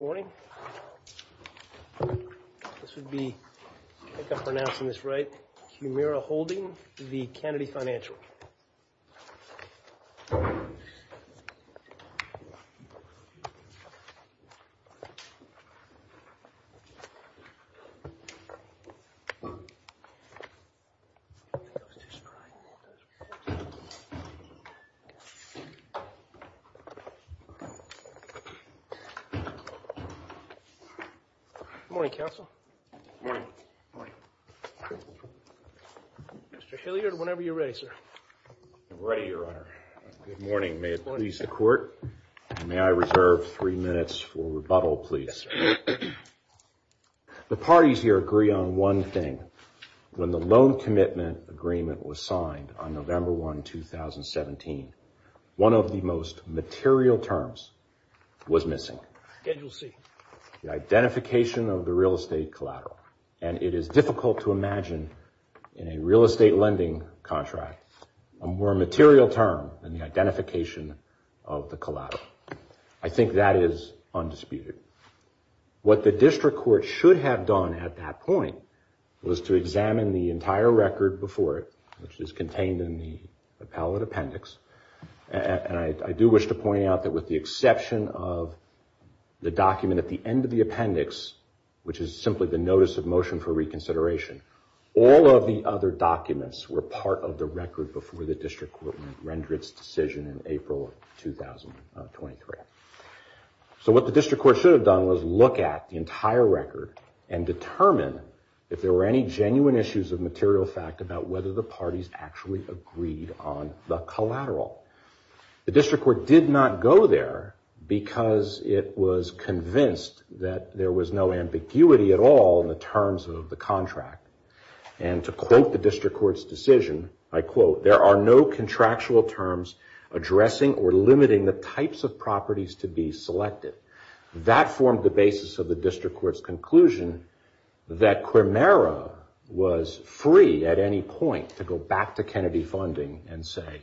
Morning. This would be I think I'm pronouncing this right. Kimera Holding v. Kennedy Financial. Morning, counsel. Morning. Morning. Mr. Hilliard, whenever you're ready, sir. I'm ready, Your Honor. Good morning. May it please the court. May I reserve three minutes for rebuttal, please? The parties here agree on one thing. When the loan commitment agreement was signed on November 1, 2017, one of the most material terms was missing. Schedule C. The identification of the real estate collateral. And it is difficult to imagine in a real estate lending contract a more material term than the identification of the collateral. I think that is undisputed. What the district court should have done at that point was to examine the entire record before it, which is contained in the appellate appendix. And I do wish to point out that with the exception of the document at the end of the appendix, which is simply the notice of motion for reconsideration, all of the other documents were part of the record before the district court rendered its decision in April of 2023. So what the district court should have done was look at the entire record and determine if there were any genuine issues of material fact about whether the parties actually agreed on the collateral. The district court did not go there because it was convinced that there was no ambiguity at all in the terms of the contract. And to quote the district court's decision, I quote, there are no contractual terms addressing or limiting the types of properties to be selected. That formed the basis of the district court's conclusion that Quermara was free at any point to go back to Kennedy Funding and say,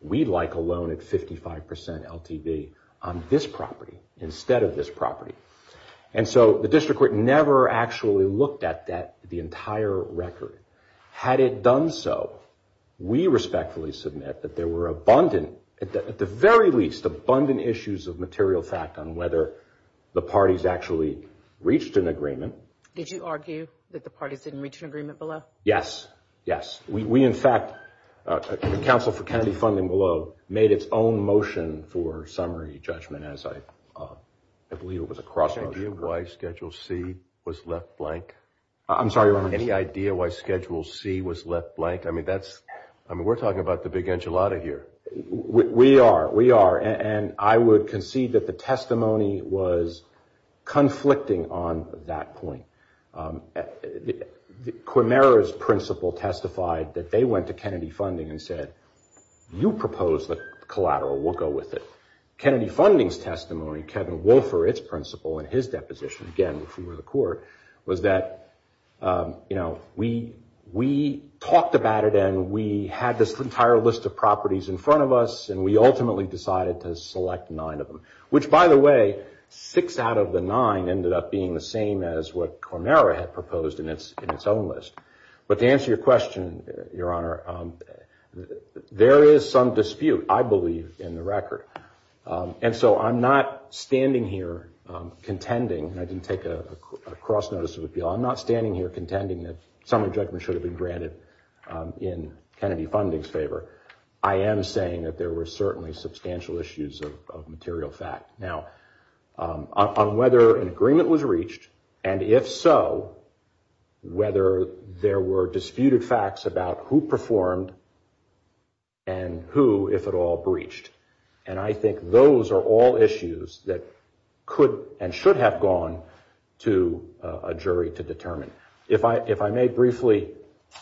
we'd like a loan at 55% LTV on this property instead of this property. And so the district court never actually looked at the entire record. Had it done so, we respectfully submit that there were abundant, at the very least, abundant issues of material fact on whether the parties actually reached an agreement. Did you argue that the parties didn't reach an agreement below? Yes, yes. We, in fact, the Council for Kennedy Funding below, made its own motion for summary judgment as I believe it was a cross motion. Any idea why Schedule C was left blank? I'm sorry, Your Honor. Any idea why Schedule C was left blank? I mean, that's, I mean, we're talking about the big enchilada here. We are, we are. And I would concede that the testimony was conflicting on that point. Quermara's principal testified that they went to Kennedy Funding and said, you propose the collateral. We'll go with it. Kennedy Funding's testimony, Kevin Wolfer, its principal, in his deposition, again, before the court, was that, you know, we talked about it and we had this entire list of properties in front of us and we ultimately decided to select nine of them. Which, by the way, six out of the nine ended up being the same as what Quermara had proposed in its own list. But to answer your question, Your Honor, there is some dispute, I believe, in the record. And so I'm not standing here contending, and I didn't take a cross notice of appeal, I'm not standing here contending that summary judgment should have been granted in Kennedy Funding's favor. I am saying that there were certainly substantial issues of material fact. Now, on whether an agreement was reached, and if so, whether there were disputed facts about who performed and who, if at all, breached. And I think those are all issues that could and should have gone to a jury to determine. If I may briefly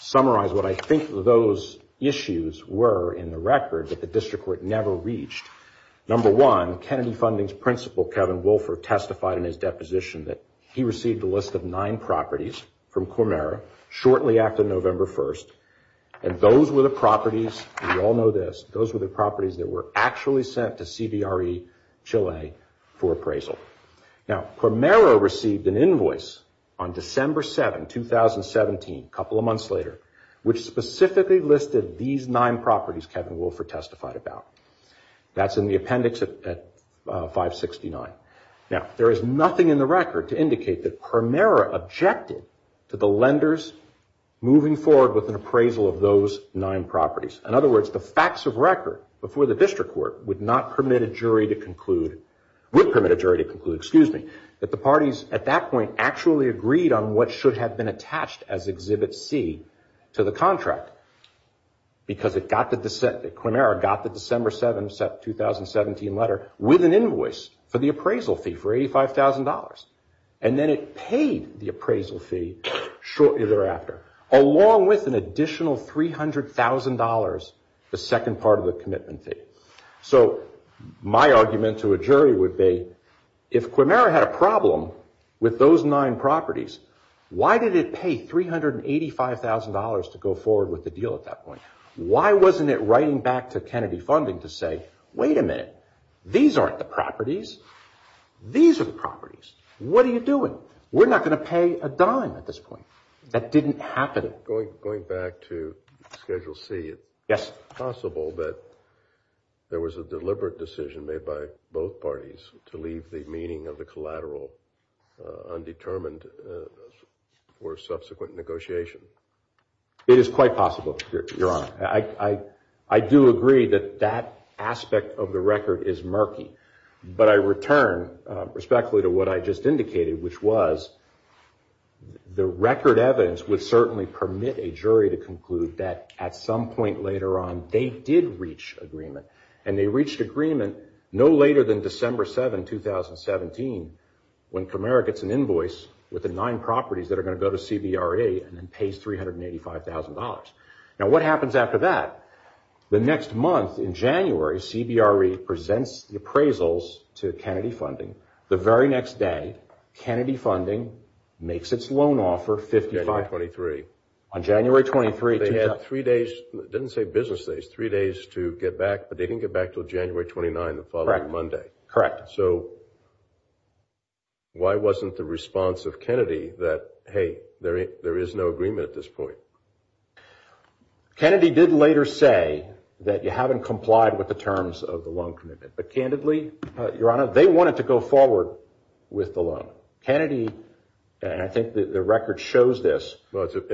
summarize what I think those issues were in the record that the district court never reached. Number one, Kennedy Funding's principal, Kevin Wolfer, testified in his deposition that he received a list of nine properties from Quermara shortly after November 1st. And those were the properties, we all know this, those were the properties that were actually sent to CDRE Chile for appraisal. Now, Quermara received an invoice on December 7, 2017, a couple of months later, which specifically listed these nine properties Kevin Wolfer testified about. That's in the appendix at 569. Now, there is nothing in the record to indicate that Quermara objected to the lenders moving forward with an appraisal of those nine properties. In other words, the facts of record before the district court would not permit a jury to conclude, would permit a jury to conclude, excuse me, that the parties at that point actually agreed on what should have been attached as Exhibit C to the contract. Because Quermara got the December 7, 2017 letter with an invoice for the appraisal fee for $85,000. And then it paid the appraisal fee shortly thereafter, along with an additional $300,000, the second part of the commitment fee. So, my argument to a jury would be, if Quermara had a problem with those nine properties, why did it pay $385,000 to go forward with the deal at that point? Why wasn't it writing back to Kennedy Funding to say, wait a minute, these aren't the properties. These are the properties. What are you doing? We're not going to pay a dime at this point. That didn't happen. Going back to Schedule C, it's possible that there was a deliberate decision made by both parties to leave the meaning of the collateral undetermined for subsequent negotiation. It is quite possible, Your Honor. I do agree that that aspect of the record is murky. But I return respectfully to what I just indicated, which was the record evidence would certainly permit a jury to conclude that at some point later on, they did reach agreement. And they reached agreement no later than December 7, 2017, when Quermara gets an invoice with the nine properties that are going to go to CBRE and then pays $385,000. Now, what happens after that? The next month, in January, CBRE presents the appraisals to Kennedy Funding. The very next day, Kennedy Funding makes its loan offer $55,000. On January 23. They had three days, didn't say business days, three days to get back, but they didn't get back until January 29, the following Monday. Correct. So why wasn't the response of Kennedy that, hey, there is no agreement at this point? Kennedy did later say that you haven't complied with the terms of the loan commitment. But candidly, Your Honor, they wanted to go forward with the loan. Kennedy, and I think the record shows this,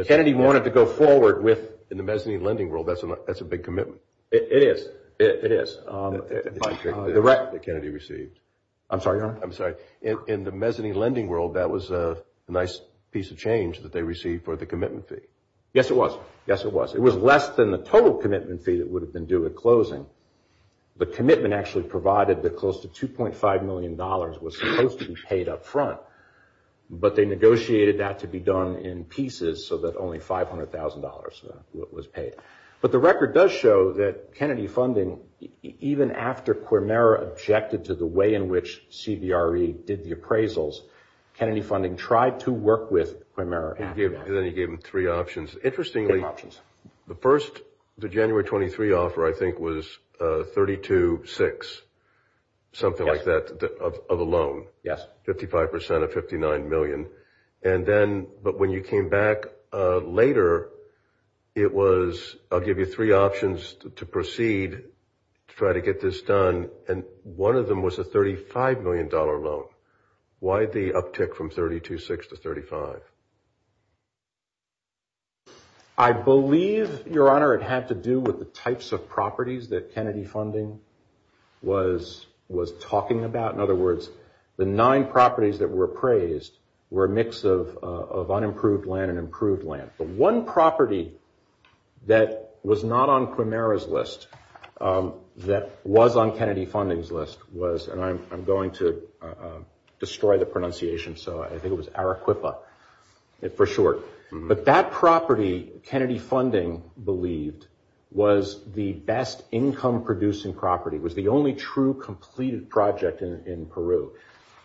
Kennedy wanted to go forward with... In the mezzanine lending world, that's a big commitment. It is. It is. The record that Kennedy received. I'm sorry, Your Honor. I'm sorry. In the mezzanine lending world, that was a nice piece of change that they received for the commitment fee. Yes, it was. Yes, it was. It was less than the total commitment fee that would have been due at closing. The commitment actually provided that close to $2.5 million was supposed to be paid up front, but they negotiated that to be done in pieces so that only $500,000 was paid. But the record does show that Kennedy Funding, even after Quermara objected to the way in which CBRE did the appraisals, Kennedy Funding tried to work with Quermara after that. And then he gave them three options. Interestingly, the first, the January 23 offer, I think, was 32-6, something like that, of a loan, 55% of $59 million. And then, but when you came back later, it was, I'll give you three options to proceed, try to get this done, and one of them was a $35 million loan. Why the uptick from 32-6 to 35? I believe, Your Honor, it had to do with the types of properties that Kennedy Funding was talking about. In other words, the nine properties that were appraised were a mix of unimproved land and improved land. The one property that was not on Quermara's list, that was on Kennedy Funding's list, was, and I'm going to destroy the pronunciation, so I think it was Arequipa for short. But that property, Kennedy Funding believed, was the best income-producing property, was the only true completed project in Peru.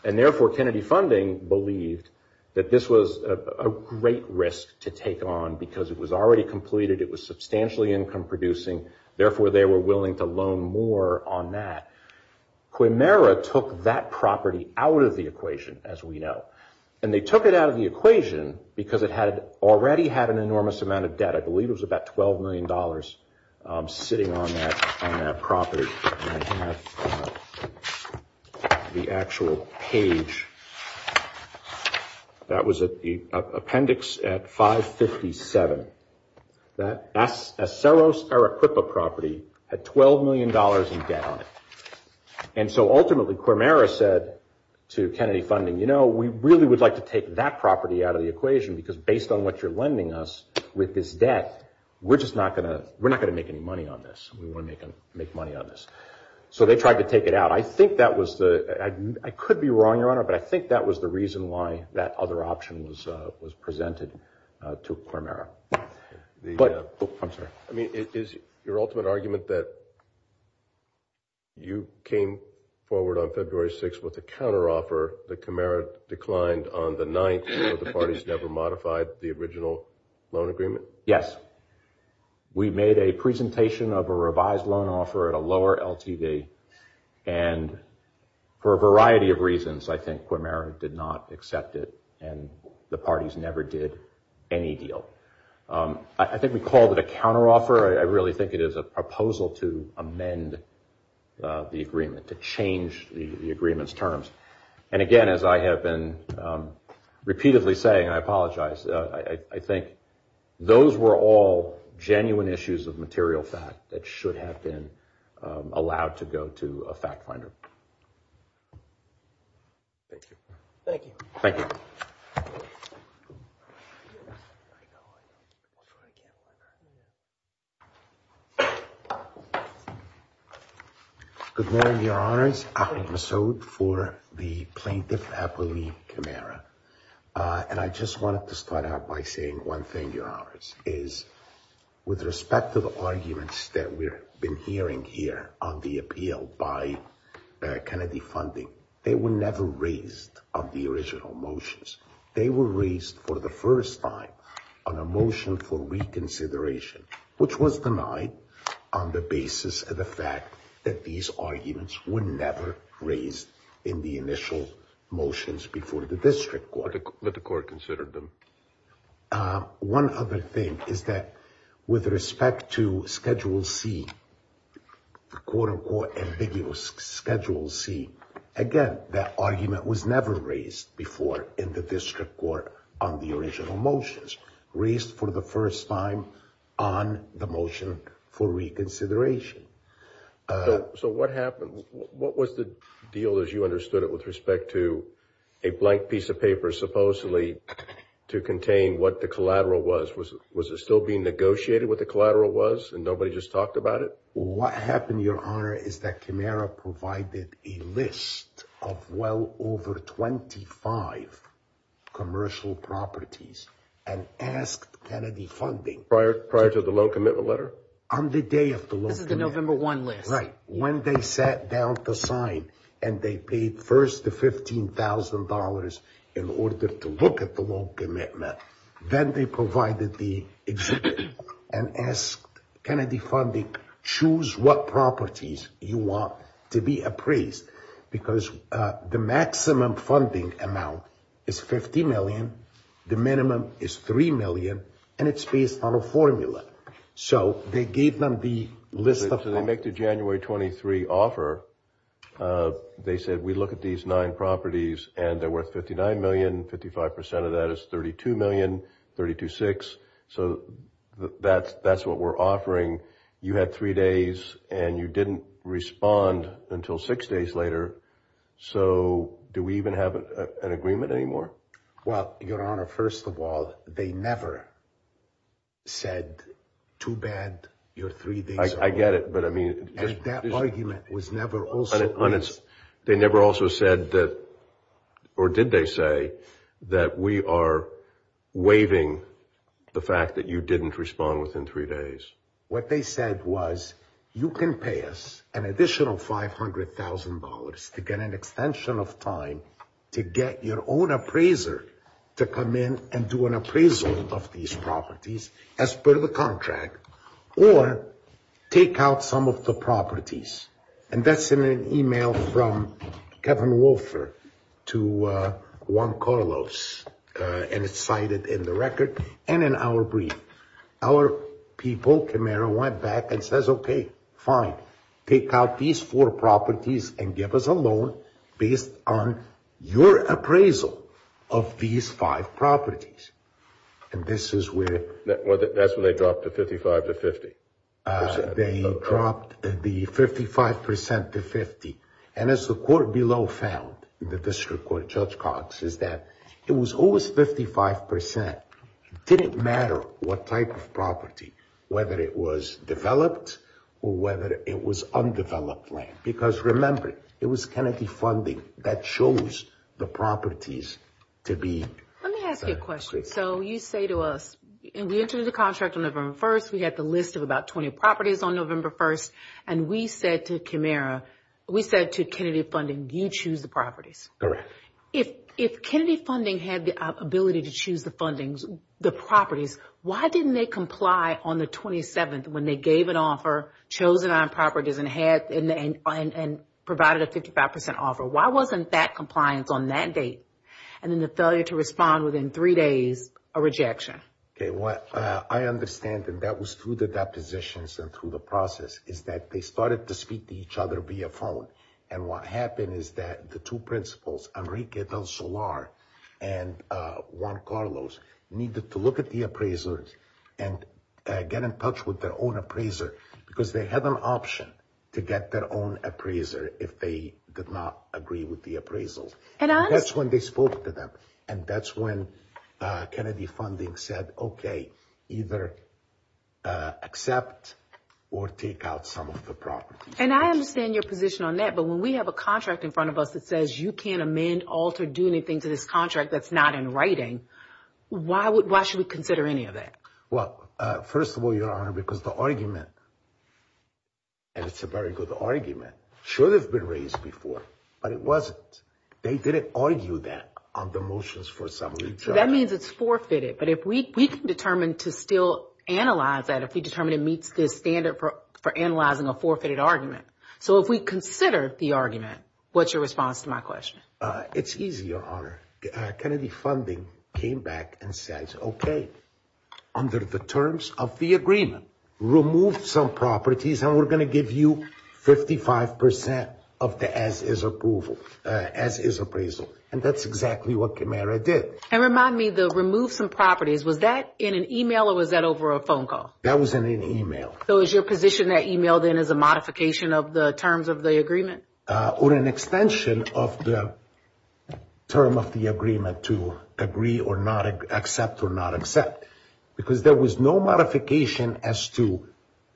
And therefore, Kennedy Funding believed that this was a great risk to take on because it was already completed, it was substantially income-producing, therefore, they were willing to loan more on that. Quermara took that property out of the equation, as we know, and they took it out of the equation because it had already had an enormous amount of debt. I believe it was about $12 million sitting on that property, and I have the actual page, that was the appendix at 557. That Aceros Arequipa property had $12 million in debt on it, and so ultimately, Quermara said to Kennedy Funding, you know, we really would like to take that property out of the equation because based on what you're lending us with this debt, we're just not going to make any money on this. We want to make money on this. So they tried to take it out. I think that was the, I could be wrong, Your Honor, but I think that was the reason why that other option was presented to Quermara. I'm sorry. I mean, is your ultimate argument that you came forward on February 6th with a counter-offer that Quermara declined on the 9th because the parties never modified the original loan agreement? Yes. We made a presentation of a revised loan offer at a lower LTV, and for a variety of reasons, I think Quermara did not accept it, and the parties never did any deal. I think we called it a counter-offer. I really think it is a proposal to amend the agreement, to change the agreement's terms. And again, as I have been repeatedly saying, I apologize, I think those were all genuine issues of material fact that should have been allowed to go to a fact finder. Thank you. Thank you. Thank you. I'll try again. Good morning, Your Honors. I'm Masoud for the Plaintiff Appellee Quermara. And I just wanted to start out by saying one thing, Your Honors, is with respect to the arguments that we've been hearing here on the appeal by Kennedy Funding, they were never raised on the original motions. They were raised for the first time on a motion for reconsideration, which was denied on the basis of the fact that these arguments were never raised in the initial motions before the district court. But the court considered them. One other thing is that with respect to Schedule C, the quote-unquote ambiguous Schedule C, again, that argument was never raised before in the district court on the original motions. Raised for the first time on the motion for reconsideration. So what happened? What was the deal as you understood it with respect to a blank piece of paper supposedly to contain what the collateral was? Was it still being negotiated what the collateral was and nobody just talked about it? What happened, Your Honor, is that Quermara provided a list of well over 25 commercial properties and asked Kennedy Funding— Prior to the loan commitment letter? On the day of the loan commitment. This is the November 1 list. Right. When they sat down to sign and they paid first the $15,000 in order to look at the loan commitment, then they provided the exhibit and asked Kennedy Funding choose what properties you want to be appraised. Because the maximum funding amount is $50 million, the minimum is $3 million, and it's based on a formula. So they gave them the list of— So they make the January 23 offer. They said, we look at these nine properties and they're worth $59 million, 55% of that is $32 million, $32.6. So that's what we're offering. You had three days and you didn't respond until six days later. So do we even have an agreement anymore? Well, Your Honor, first of all, they never said too bad your three days are over. I get it, but I mean— And that argument was never also based— They never also said that—or did they say that we are waiving the fact that you didn't respond within three days? What they said was, you can pay us an additional $500,000 to get an extension of time to get your own appraiser to come in and do an appraisal of these properties as per the contract or take out some of the properties. And that's in an email from Kevin Wolfer to Juan Carlos, and it's cited in the record and in our brief. Our people, Camaro, went back and says, okay, fine, take out these four properties and give us a loan based on your appraisal of these five properties. And this is where— That's when they dropped the 55% to 50%. They dropped the 55% to 50%. And as the court below found, the district court, Judge Cox, is that it was always 55%. It didn't matter what type of property, whether it was developed or whether it was undeveloped land. Because remember, it was Kennedy funding that chose the properties to be— Let me ask you a question. So you say to us, we entered the contract on November 1st. We had the list of about 20 properties on November 1st. And we said to Camaro, we said to Kennedy Funding, you choose the properties. If Kennedy Funding had the ability to choose the properties, why didn't they comply on the 27th when they gave an offer, chose it on properties, and provided a 55% offer? Why wasn't that compliance on that date? And then the failure to respond within three days, a rejection. What I understand, and that was through the depositions and through the process, is that they started to speak to each other via phone. And what happened is that the two principals, Enrique Del Solar and Juan Carlos, needed to look at the appraisals and get in touch with their own appraiser because they had an option to get their own appraiser if they did not agree with the appraisals. That's when they spoke to them. And that's when Kennedy Funding said, okay, either accept or take out some of the properties. And I understand your position on that, but when we have a contract in front of us that says you can't amend, alter, do anything to this contract that's not in writing, why should we consider any of that? Well, first of all, Your Honor, because the argument, and it's a very good argument, should have been raised before, but it wasn't. They didn't argue that on the motions for some of the charges. That means it's forfeited, but we can determine to still analyze that if we determine it meets the standard for analyzing a forfeited argument. So if we consider the argument, what's your response to my question? It's easy, Your Honor. Kennedy Funding came back and said, okay, under the terms of the agreement, remove some properties and we're going to give you 55% of the as-is approval. As-is appraisal. And that's exactly what Camara did. And remind me, the remove some properties, was that in an email or was that over a phone call? That was in an email. So is your position that email then is a modification of the terms of the agreement? Or an extension of the term of the agreement to agree or not accept or not accept. Because there was no modification as to,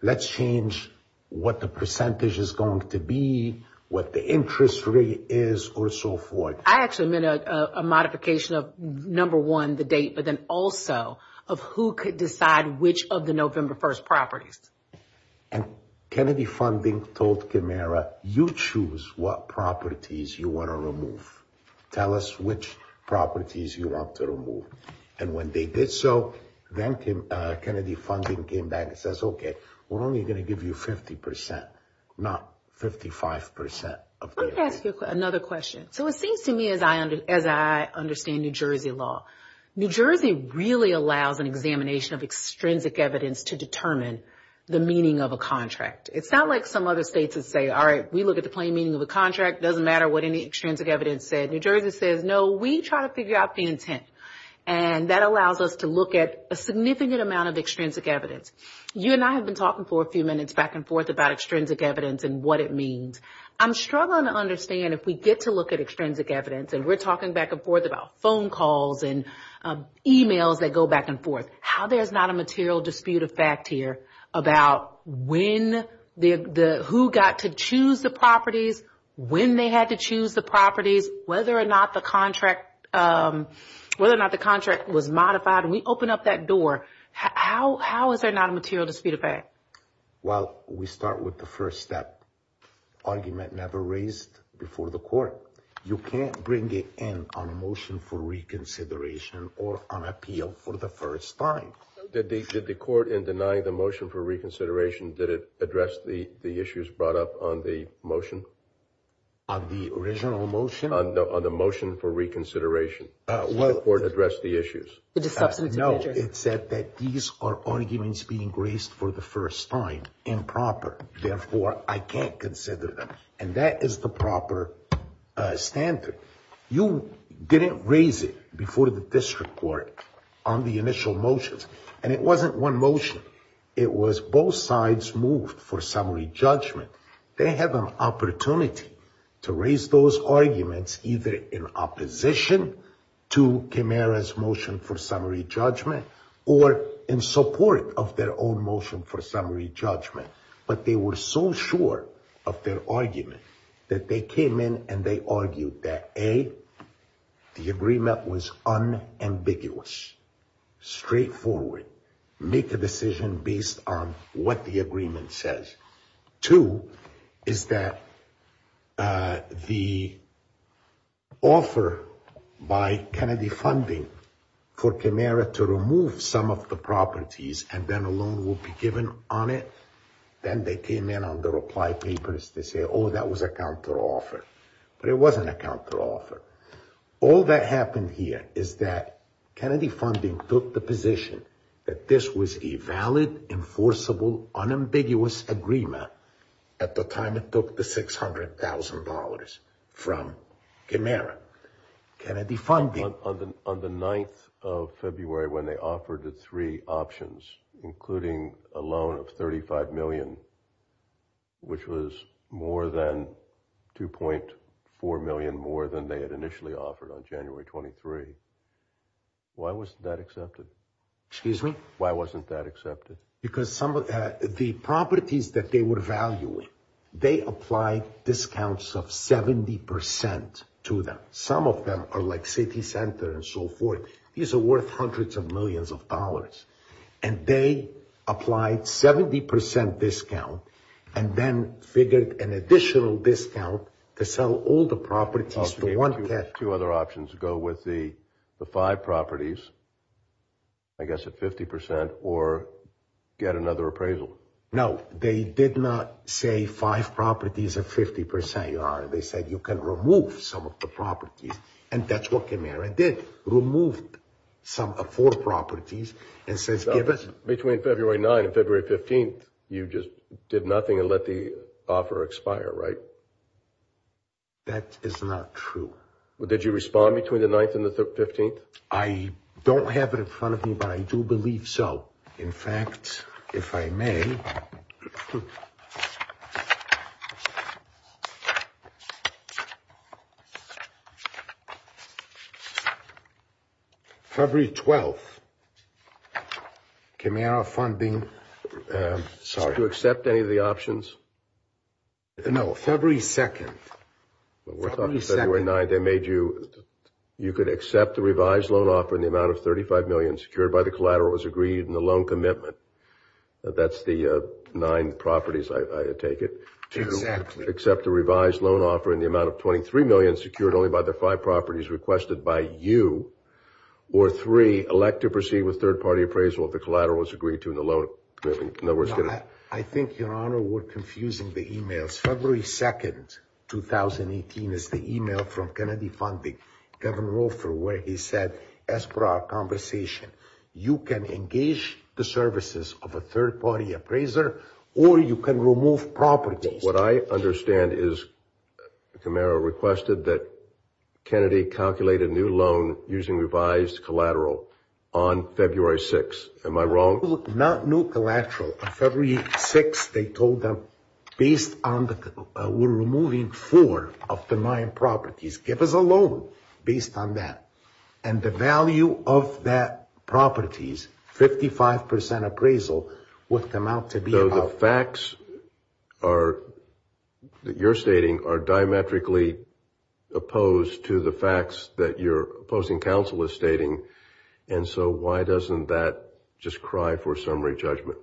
let's change what the percentage is going to be, what the interest rate is, or so forth. I actually meant a modification of, number one, the date, but then also of who could decide which of the November 1st properties. And Kennedy Funding told Camara, you choose what properties you want to remove. Tell us which properties you want to remove. And when they did so, then Kennedy Funding came back and says, okay, we're only going to give you 50%, not 55% of the as-is. Let me ask you another question. So it seems to me as I understand New Jersey law, New Jersey really allows an examination of extrinsic evidence to determine the meaning of a contract. It's not like some other states that say, all right, we look at the plain meaning of a contract. It doesn't matter what any extrinsic evidence says. New Jersey says, no, we try to figure out the intent. And that allows us to look at a significant amount of extrinsic evidence. You and I have been talking for a few minutes back and forth about extrinsic evidence and what it means. I'm struggling to understand if we get to look at extrinsic evidence, and we're talking back and forth about phone calls and emails that go back and forth, how there's not a material dispute of fact here about when the, who got to choose the properties, when they had to choose the properties, whether or not the contract, whether or not the contract was modified. When we open up that door, how is there not a material dispute of fact? Well, we start with the first step. Argument never raised before the court. You can't bring it in on a motion for reconsideration or on appeal for the first time. Did the court, in denying the motion for reconsideration, did it address the issues brought up on the motion? On the original motion? No, on the motion for reconsideration. Did the court address the issues? No, it said that these are arguments being raised for the first time, improper. Therefore, I can't consider them. And that is the proper standard. You didn't raise it before the district court on the initial motions. And it wasn't one motion. It was both sides moved for summary judgment. They have an opportunity to raise those arguments either in opposition to Camara's motion for summary judgment or in support of their own motion for summary judgment. But they were so sure of their argument that they came in and they argued that A, the agreement was unambiguous, straightforward, make a decision based on what the agreement says. Two, is that the offer by Kennedy Funding for Camara to remove some of the properties and then a loan will be given on it. Then they came in on the reply papers. They say, oh, that was a counteroffer. But it wasn't a counteroffer. All that happened here is that Kennedy Funding took the position that this was a valid, enforceable, unambiguous agreement at the time it took the $600,000 from Camara. Kennedy Funding... On the 9th of February when they offered the three options, including a loan of $35 million, which was more than $2.4 million more than they had initially offered on January 23, why wasn't that accepted? Excuse me? Why wasn't that accepted? Because some of the properties that they were valuing, they applied discounts of 70% to them. Some of them are like City Center and so forth. These are worth hundreds of millions of dollars. And they applied 70% discount and then figured an additional discount to sell all the properties. Two other options. Go with the five properties, I guess at 50%, or get another appraisal. They did not say five properties at 50%. They said you can remove some of the properties. And that's what Camara did. Removed four properties. Between February 9 and February 15, you just did nothing and let the offer expire, right? That is not true. Well, did you respond between the 9th and the 15th? I don't have it in front of me, but I do believe so. In fact, if I may, February 12th, Camara funding, sorry. Did you accept any of the options? No, February 2nd. We're talking about February 9th. They made you, you could accept the revised loan offer in the amount of $35 million, secured by the collateral as agreed in the loan commitment. That's the nine properties, I take it. Exactly. To accept the revised loan offer in the amount of $23 million, secured only by the five properties requested by you, or three, elect to proceed with third-party appraisal if the collateral was agreed to in the loan commitment. I think, Your Honor, we're confusing the emails. February 2nd, 2018 is the email from Kennedy Funding, Kevin Roefer, where he said, as per our conversation, you can engage the services of a third-party appraiser, or you can remove properties. What I understand is Camara requested that Kennedy calculate a new loan using revised collateral on February 6th. Am I wrong? Not new collateral. On February 6th, they told them, based on the, we're removing four of the nine properties. Give us a loan based on that. And the value of that properties, 55% appraisal, would come out to be about... So the facts are, that you're stating, are diametrically opposed to the facts that your opposing counsel is stating. And so why doesn't that just cry for summary judgment?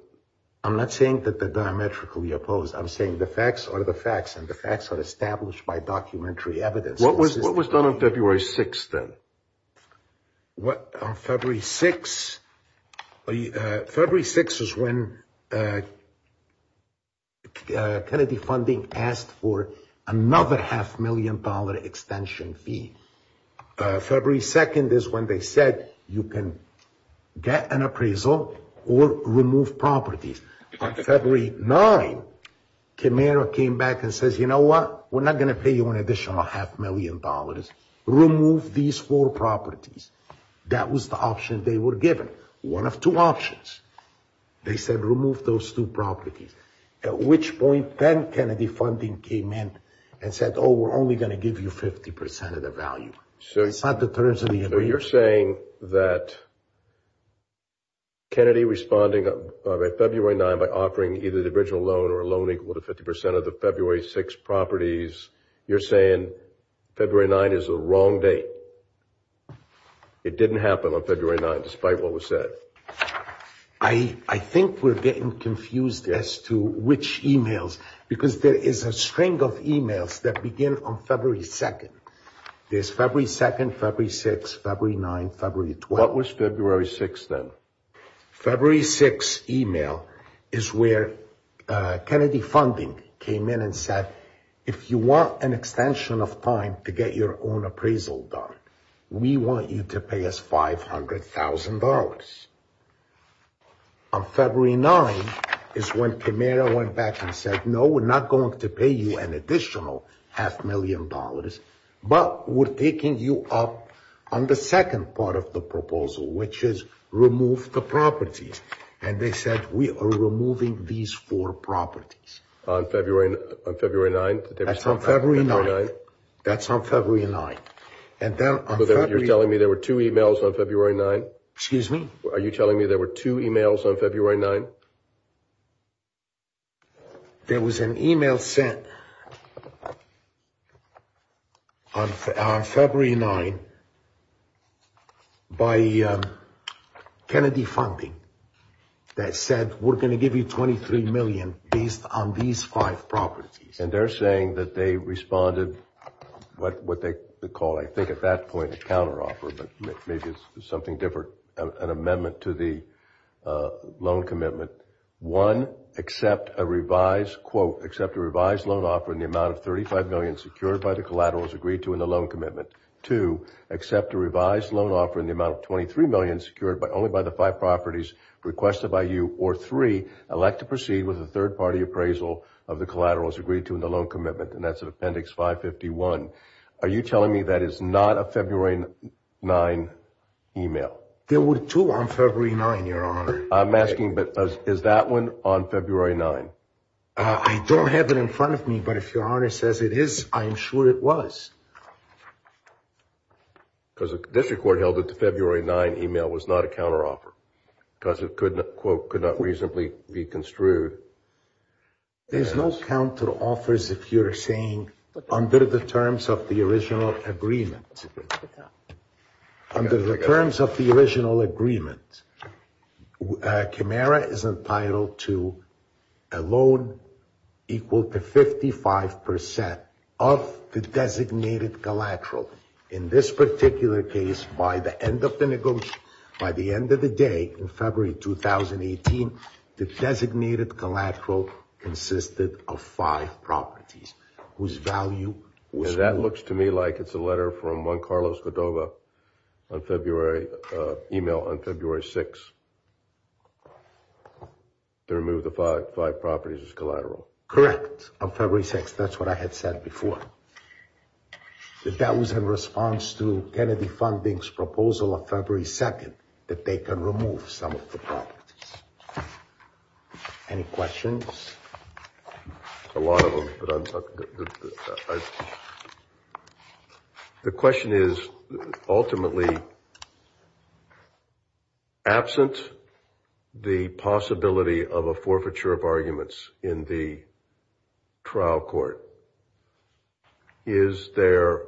I'm not saying that they're diametrically opposed. I'm saying the facts are the facts, and the facts are established by documentary evidence. What was done on February 6th, then? On February 6th, February 6th is when Kennedy Funding asked for another half-million-dollar extension fee. February 2nd is when they said you can get an appraisal or remove properties. On February 9th, Camara came back and says, you know what? We're not going to pay you an additional half-million dollars. Remove these four properties. That was the option they were given. One of two options. They said remove those two properties. At which point, then Kennedy Funding came in and said, oh, we're only going to give you 50% of the value. So you're saying that Kennedy responding on February 9th by offering either the original loan or a loan equal to 50% of the February 6th properties, you're saying February 9th is a wrong date. It didn't happen on February 9th, despite what was said. I think we're getting confused as to which emails. Because there is a string of emails that begin on February 2nd. There's February 2nd, February 6th, February 9th, February 12th. What was February 6th, then? February 6th email is where Kennedy Funding came in and said, if you want an extension of time to get your own appraisal done, we want you to pay us $500,000. On February 9th is when Camara went back and said, no, we're not going to pay you an additional half million dollars, but we're taking you up on the second part of the proposal, which is remove the properties. And they said, we are removing these four properties. On February 9th? That's on February 9th. That's on February 9th. You're telling me there were two emails on February 9th? Excuse me? Are you telling me there were two emails on February 9th? There was an email sent on February 9th by Kennedy Funding that said, we're going to give you $23 million based on these five properties. And they're saying that they responded what they call, I think at that point, a counteroffer, but maybe it's something different, an amendment to the loan commitment. One, accept a revised loan offer in the amount of $35 million secured by the collaterals agreed to in the loan commitment. Two, accept a revised loan offer in the amount of $23 million secured only by the five properties requested by you. Or three, elect to proceed with a third-party appraisal of the collaterals agreed to in the loan commitment. And that's in Appendix 551. Are you telling me that is not a February 9th email? There were two on February 9th, Your Honor. I'm asking, but is that one on February 9th? I don't have it in front of me, but if Your Honor says it is, I'm sure it was. Because the District Court held that the February 9th email was not a counteroffer. Because it, quote, could not reasonably be construed. There's no counteroffers under the terms of the original agreement. Under the terms of the original agreement, Camara is entitled to a loan equal to 55% of the designated collateral. In this particular case, by the end of the negotiation, by the end of the day, in February 2018, the designated collateral consisted of five properties. And that looks to me like it's a letter from Juan Carlos Godova on February, email on February 6th, to remove the five properties as collateral. Correct. On February 6th. That's what I had said before. That was in response to Kennedy Funding's proposal on February 2nd, that they can remove some of the properties. Any questions? A lot of them. The question is, absent the possibility of a forfeiture of arguments in the trial court, is there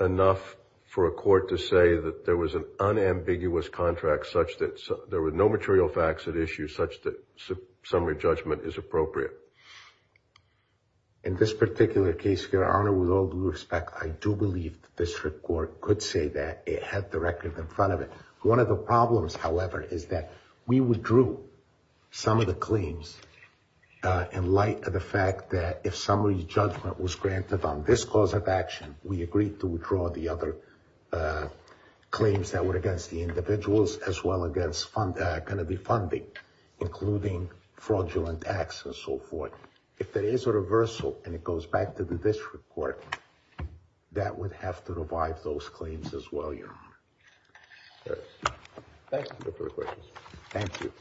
enough for a court to say that there was an unambiguous contract such that there were no material facts at issue such that summary judgment is appropriate? In this particular case, Your Honor, with all due respect, I do believe the district court could say that it had the record in front of it. One of the problems, however, is that we withdrew some of the claims in light of the fact that if summary judgment was granted on this cause of action, we agreed to withdraw the other claims that were against the individuals as well as Kennedy Funding, including fraudulent acts and so forth. If there is a reversal and it goes back to the district court, that would have to revive those claims as well, Your Honor. Thank you.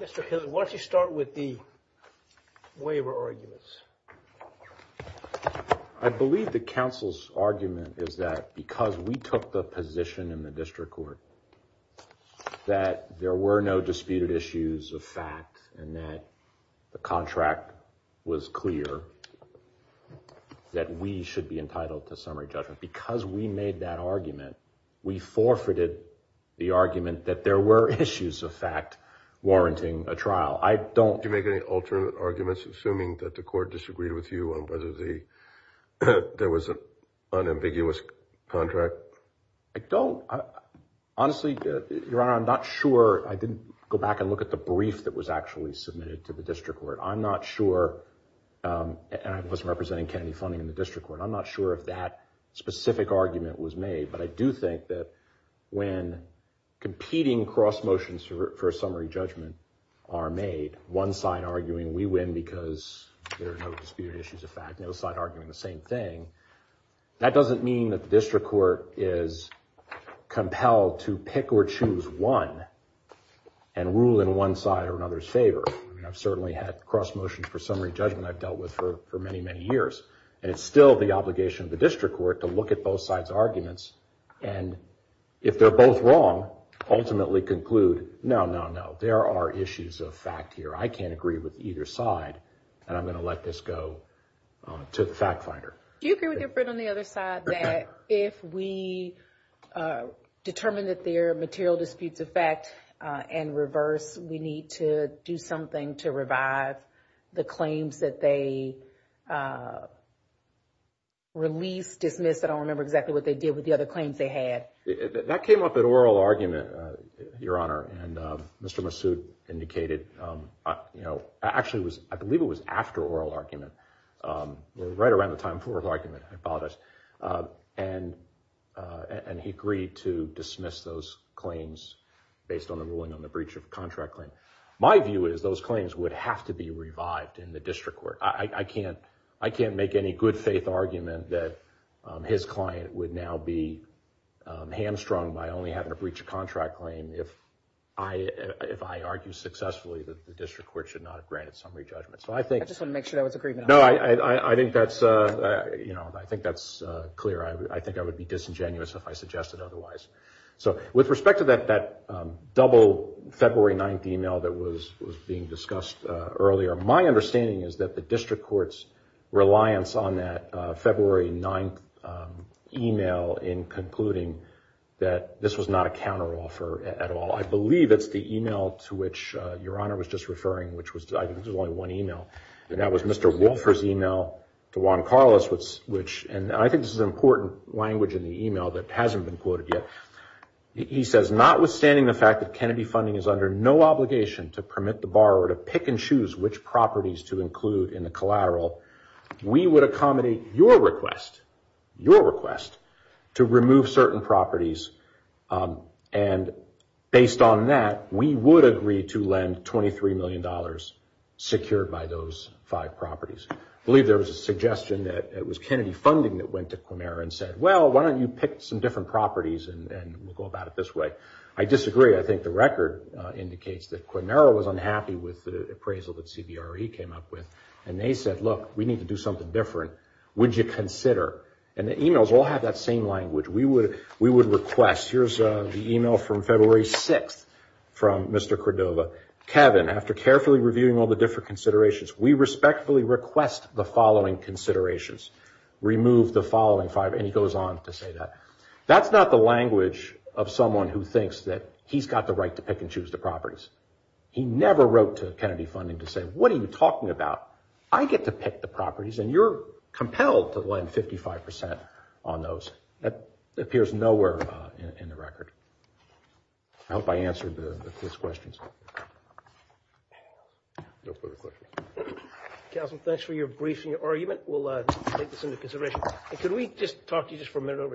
Mr. Hill, why don't you start with the waiver arguments? I believe the counsel's argument is that because we took the position in the district court that there were no disputed issues of fact and that the contract was clear that we should be entitled to summary judgment. Because we made that argument, we forfeited the argument that there were issues of fact warranting a trial. Do you make any alternate arguments assuming that the court disagreed with you on whether there was an unambiguous contract? I don't. Honestly, Your Honor, I'm not sure. I didn't go back and look at the brief that was actually submitted to the district court. I'm not sure. I wasn't representing Kennedy Funding in the district court. I'm not sure if that specific argument was made, but I do think that when competing cross motions for summary judgment are made, one side arguing we win because there are no disputed issues of fact and the other side arguing the same thing, that doesn't mean that the district court is compelled to pick or choose one and rule in one side or another's favor. I mean, I've certainly had cross motions for summary judgment I've dealt with for many, many years. And it's still the obligation of the district court to look at both sides' arguments and, if they're both wrong, ultimately conclude, no, no, no, there are issues of fact here. I can't agree with either side and I'm going to let this go to the fact finder. Do you agree with your friend on the other side that if we determine that there are material disputes of fact and reverse, we need to do something to revive the claims that they released, dismissed, I don't remember exactly what they did with the other claims they had. That came up at oral argument, Your Honor, and Mr. Massoud indicated actually, I believe it was after oral argument, right around the time of oral argument, I apologize, and he agreed to dismiss those claims based on the ruling on the breach of contract claim. My view is those claims would have to be revived in the district court. I can't make any good faith argument that his client would now be hamstrung by only having a breach of contract claim if I argue successfully that the district court should not have granted summary judgment. I just want to make sure that was agreed to. I think that's clear. I think I would be disingenuous if I suggested otherwise. With respect to that double February 9th email that was being discussed earlier, my understanding is that the district court's reliance on that February 9th email in concluding that this was not a counteroffer at all. I believe it's the email to which Your Honor was just referring, which was, I think it was only one email, and that was Mr. Wolfer's email to Juan Carlos, which, and I think this is an important language in the email that hasn't been quoted yet. He says, notwithstanding the fact that Kennedy Funding is under no obligation to permit the borrower to pick and choose which properties to include in the collateral, we would accommodate your request, your request, to remove certain properties, and based on that, we would agree to lend $23 million secured by those five properties. I believe there was a suggestion that it was Kennedy Funding that went to Quinera and said, well, why don't you pick some different properties and we'll go about it this way. I disagree. I think the record indicates that Quinera was unhappy with the appraisal that CBRE came up with, and they said, look, we need to do something different. Would you consider, and the emails all have that same language, we would request, here's the email from February 6th from Mr. Cordova, Kevin, after carefully reviewing all the different considerations, we respectfully request the following considerations. Remove the following five, and he goes on to say that. That's not the language of someone who thinks that he's got the right to pick and choose the properties. He never wrote to Kennedy Funding to say, what are you talking about? I get to pick the properties, and you're compelled to lend 55% on those. That appears nowhere in the record. I hope I answered his questions. No further questions. Councilman, thanks for your brief and your argument. We'll take this into consideration. Could we just talk to you just for a minute over here?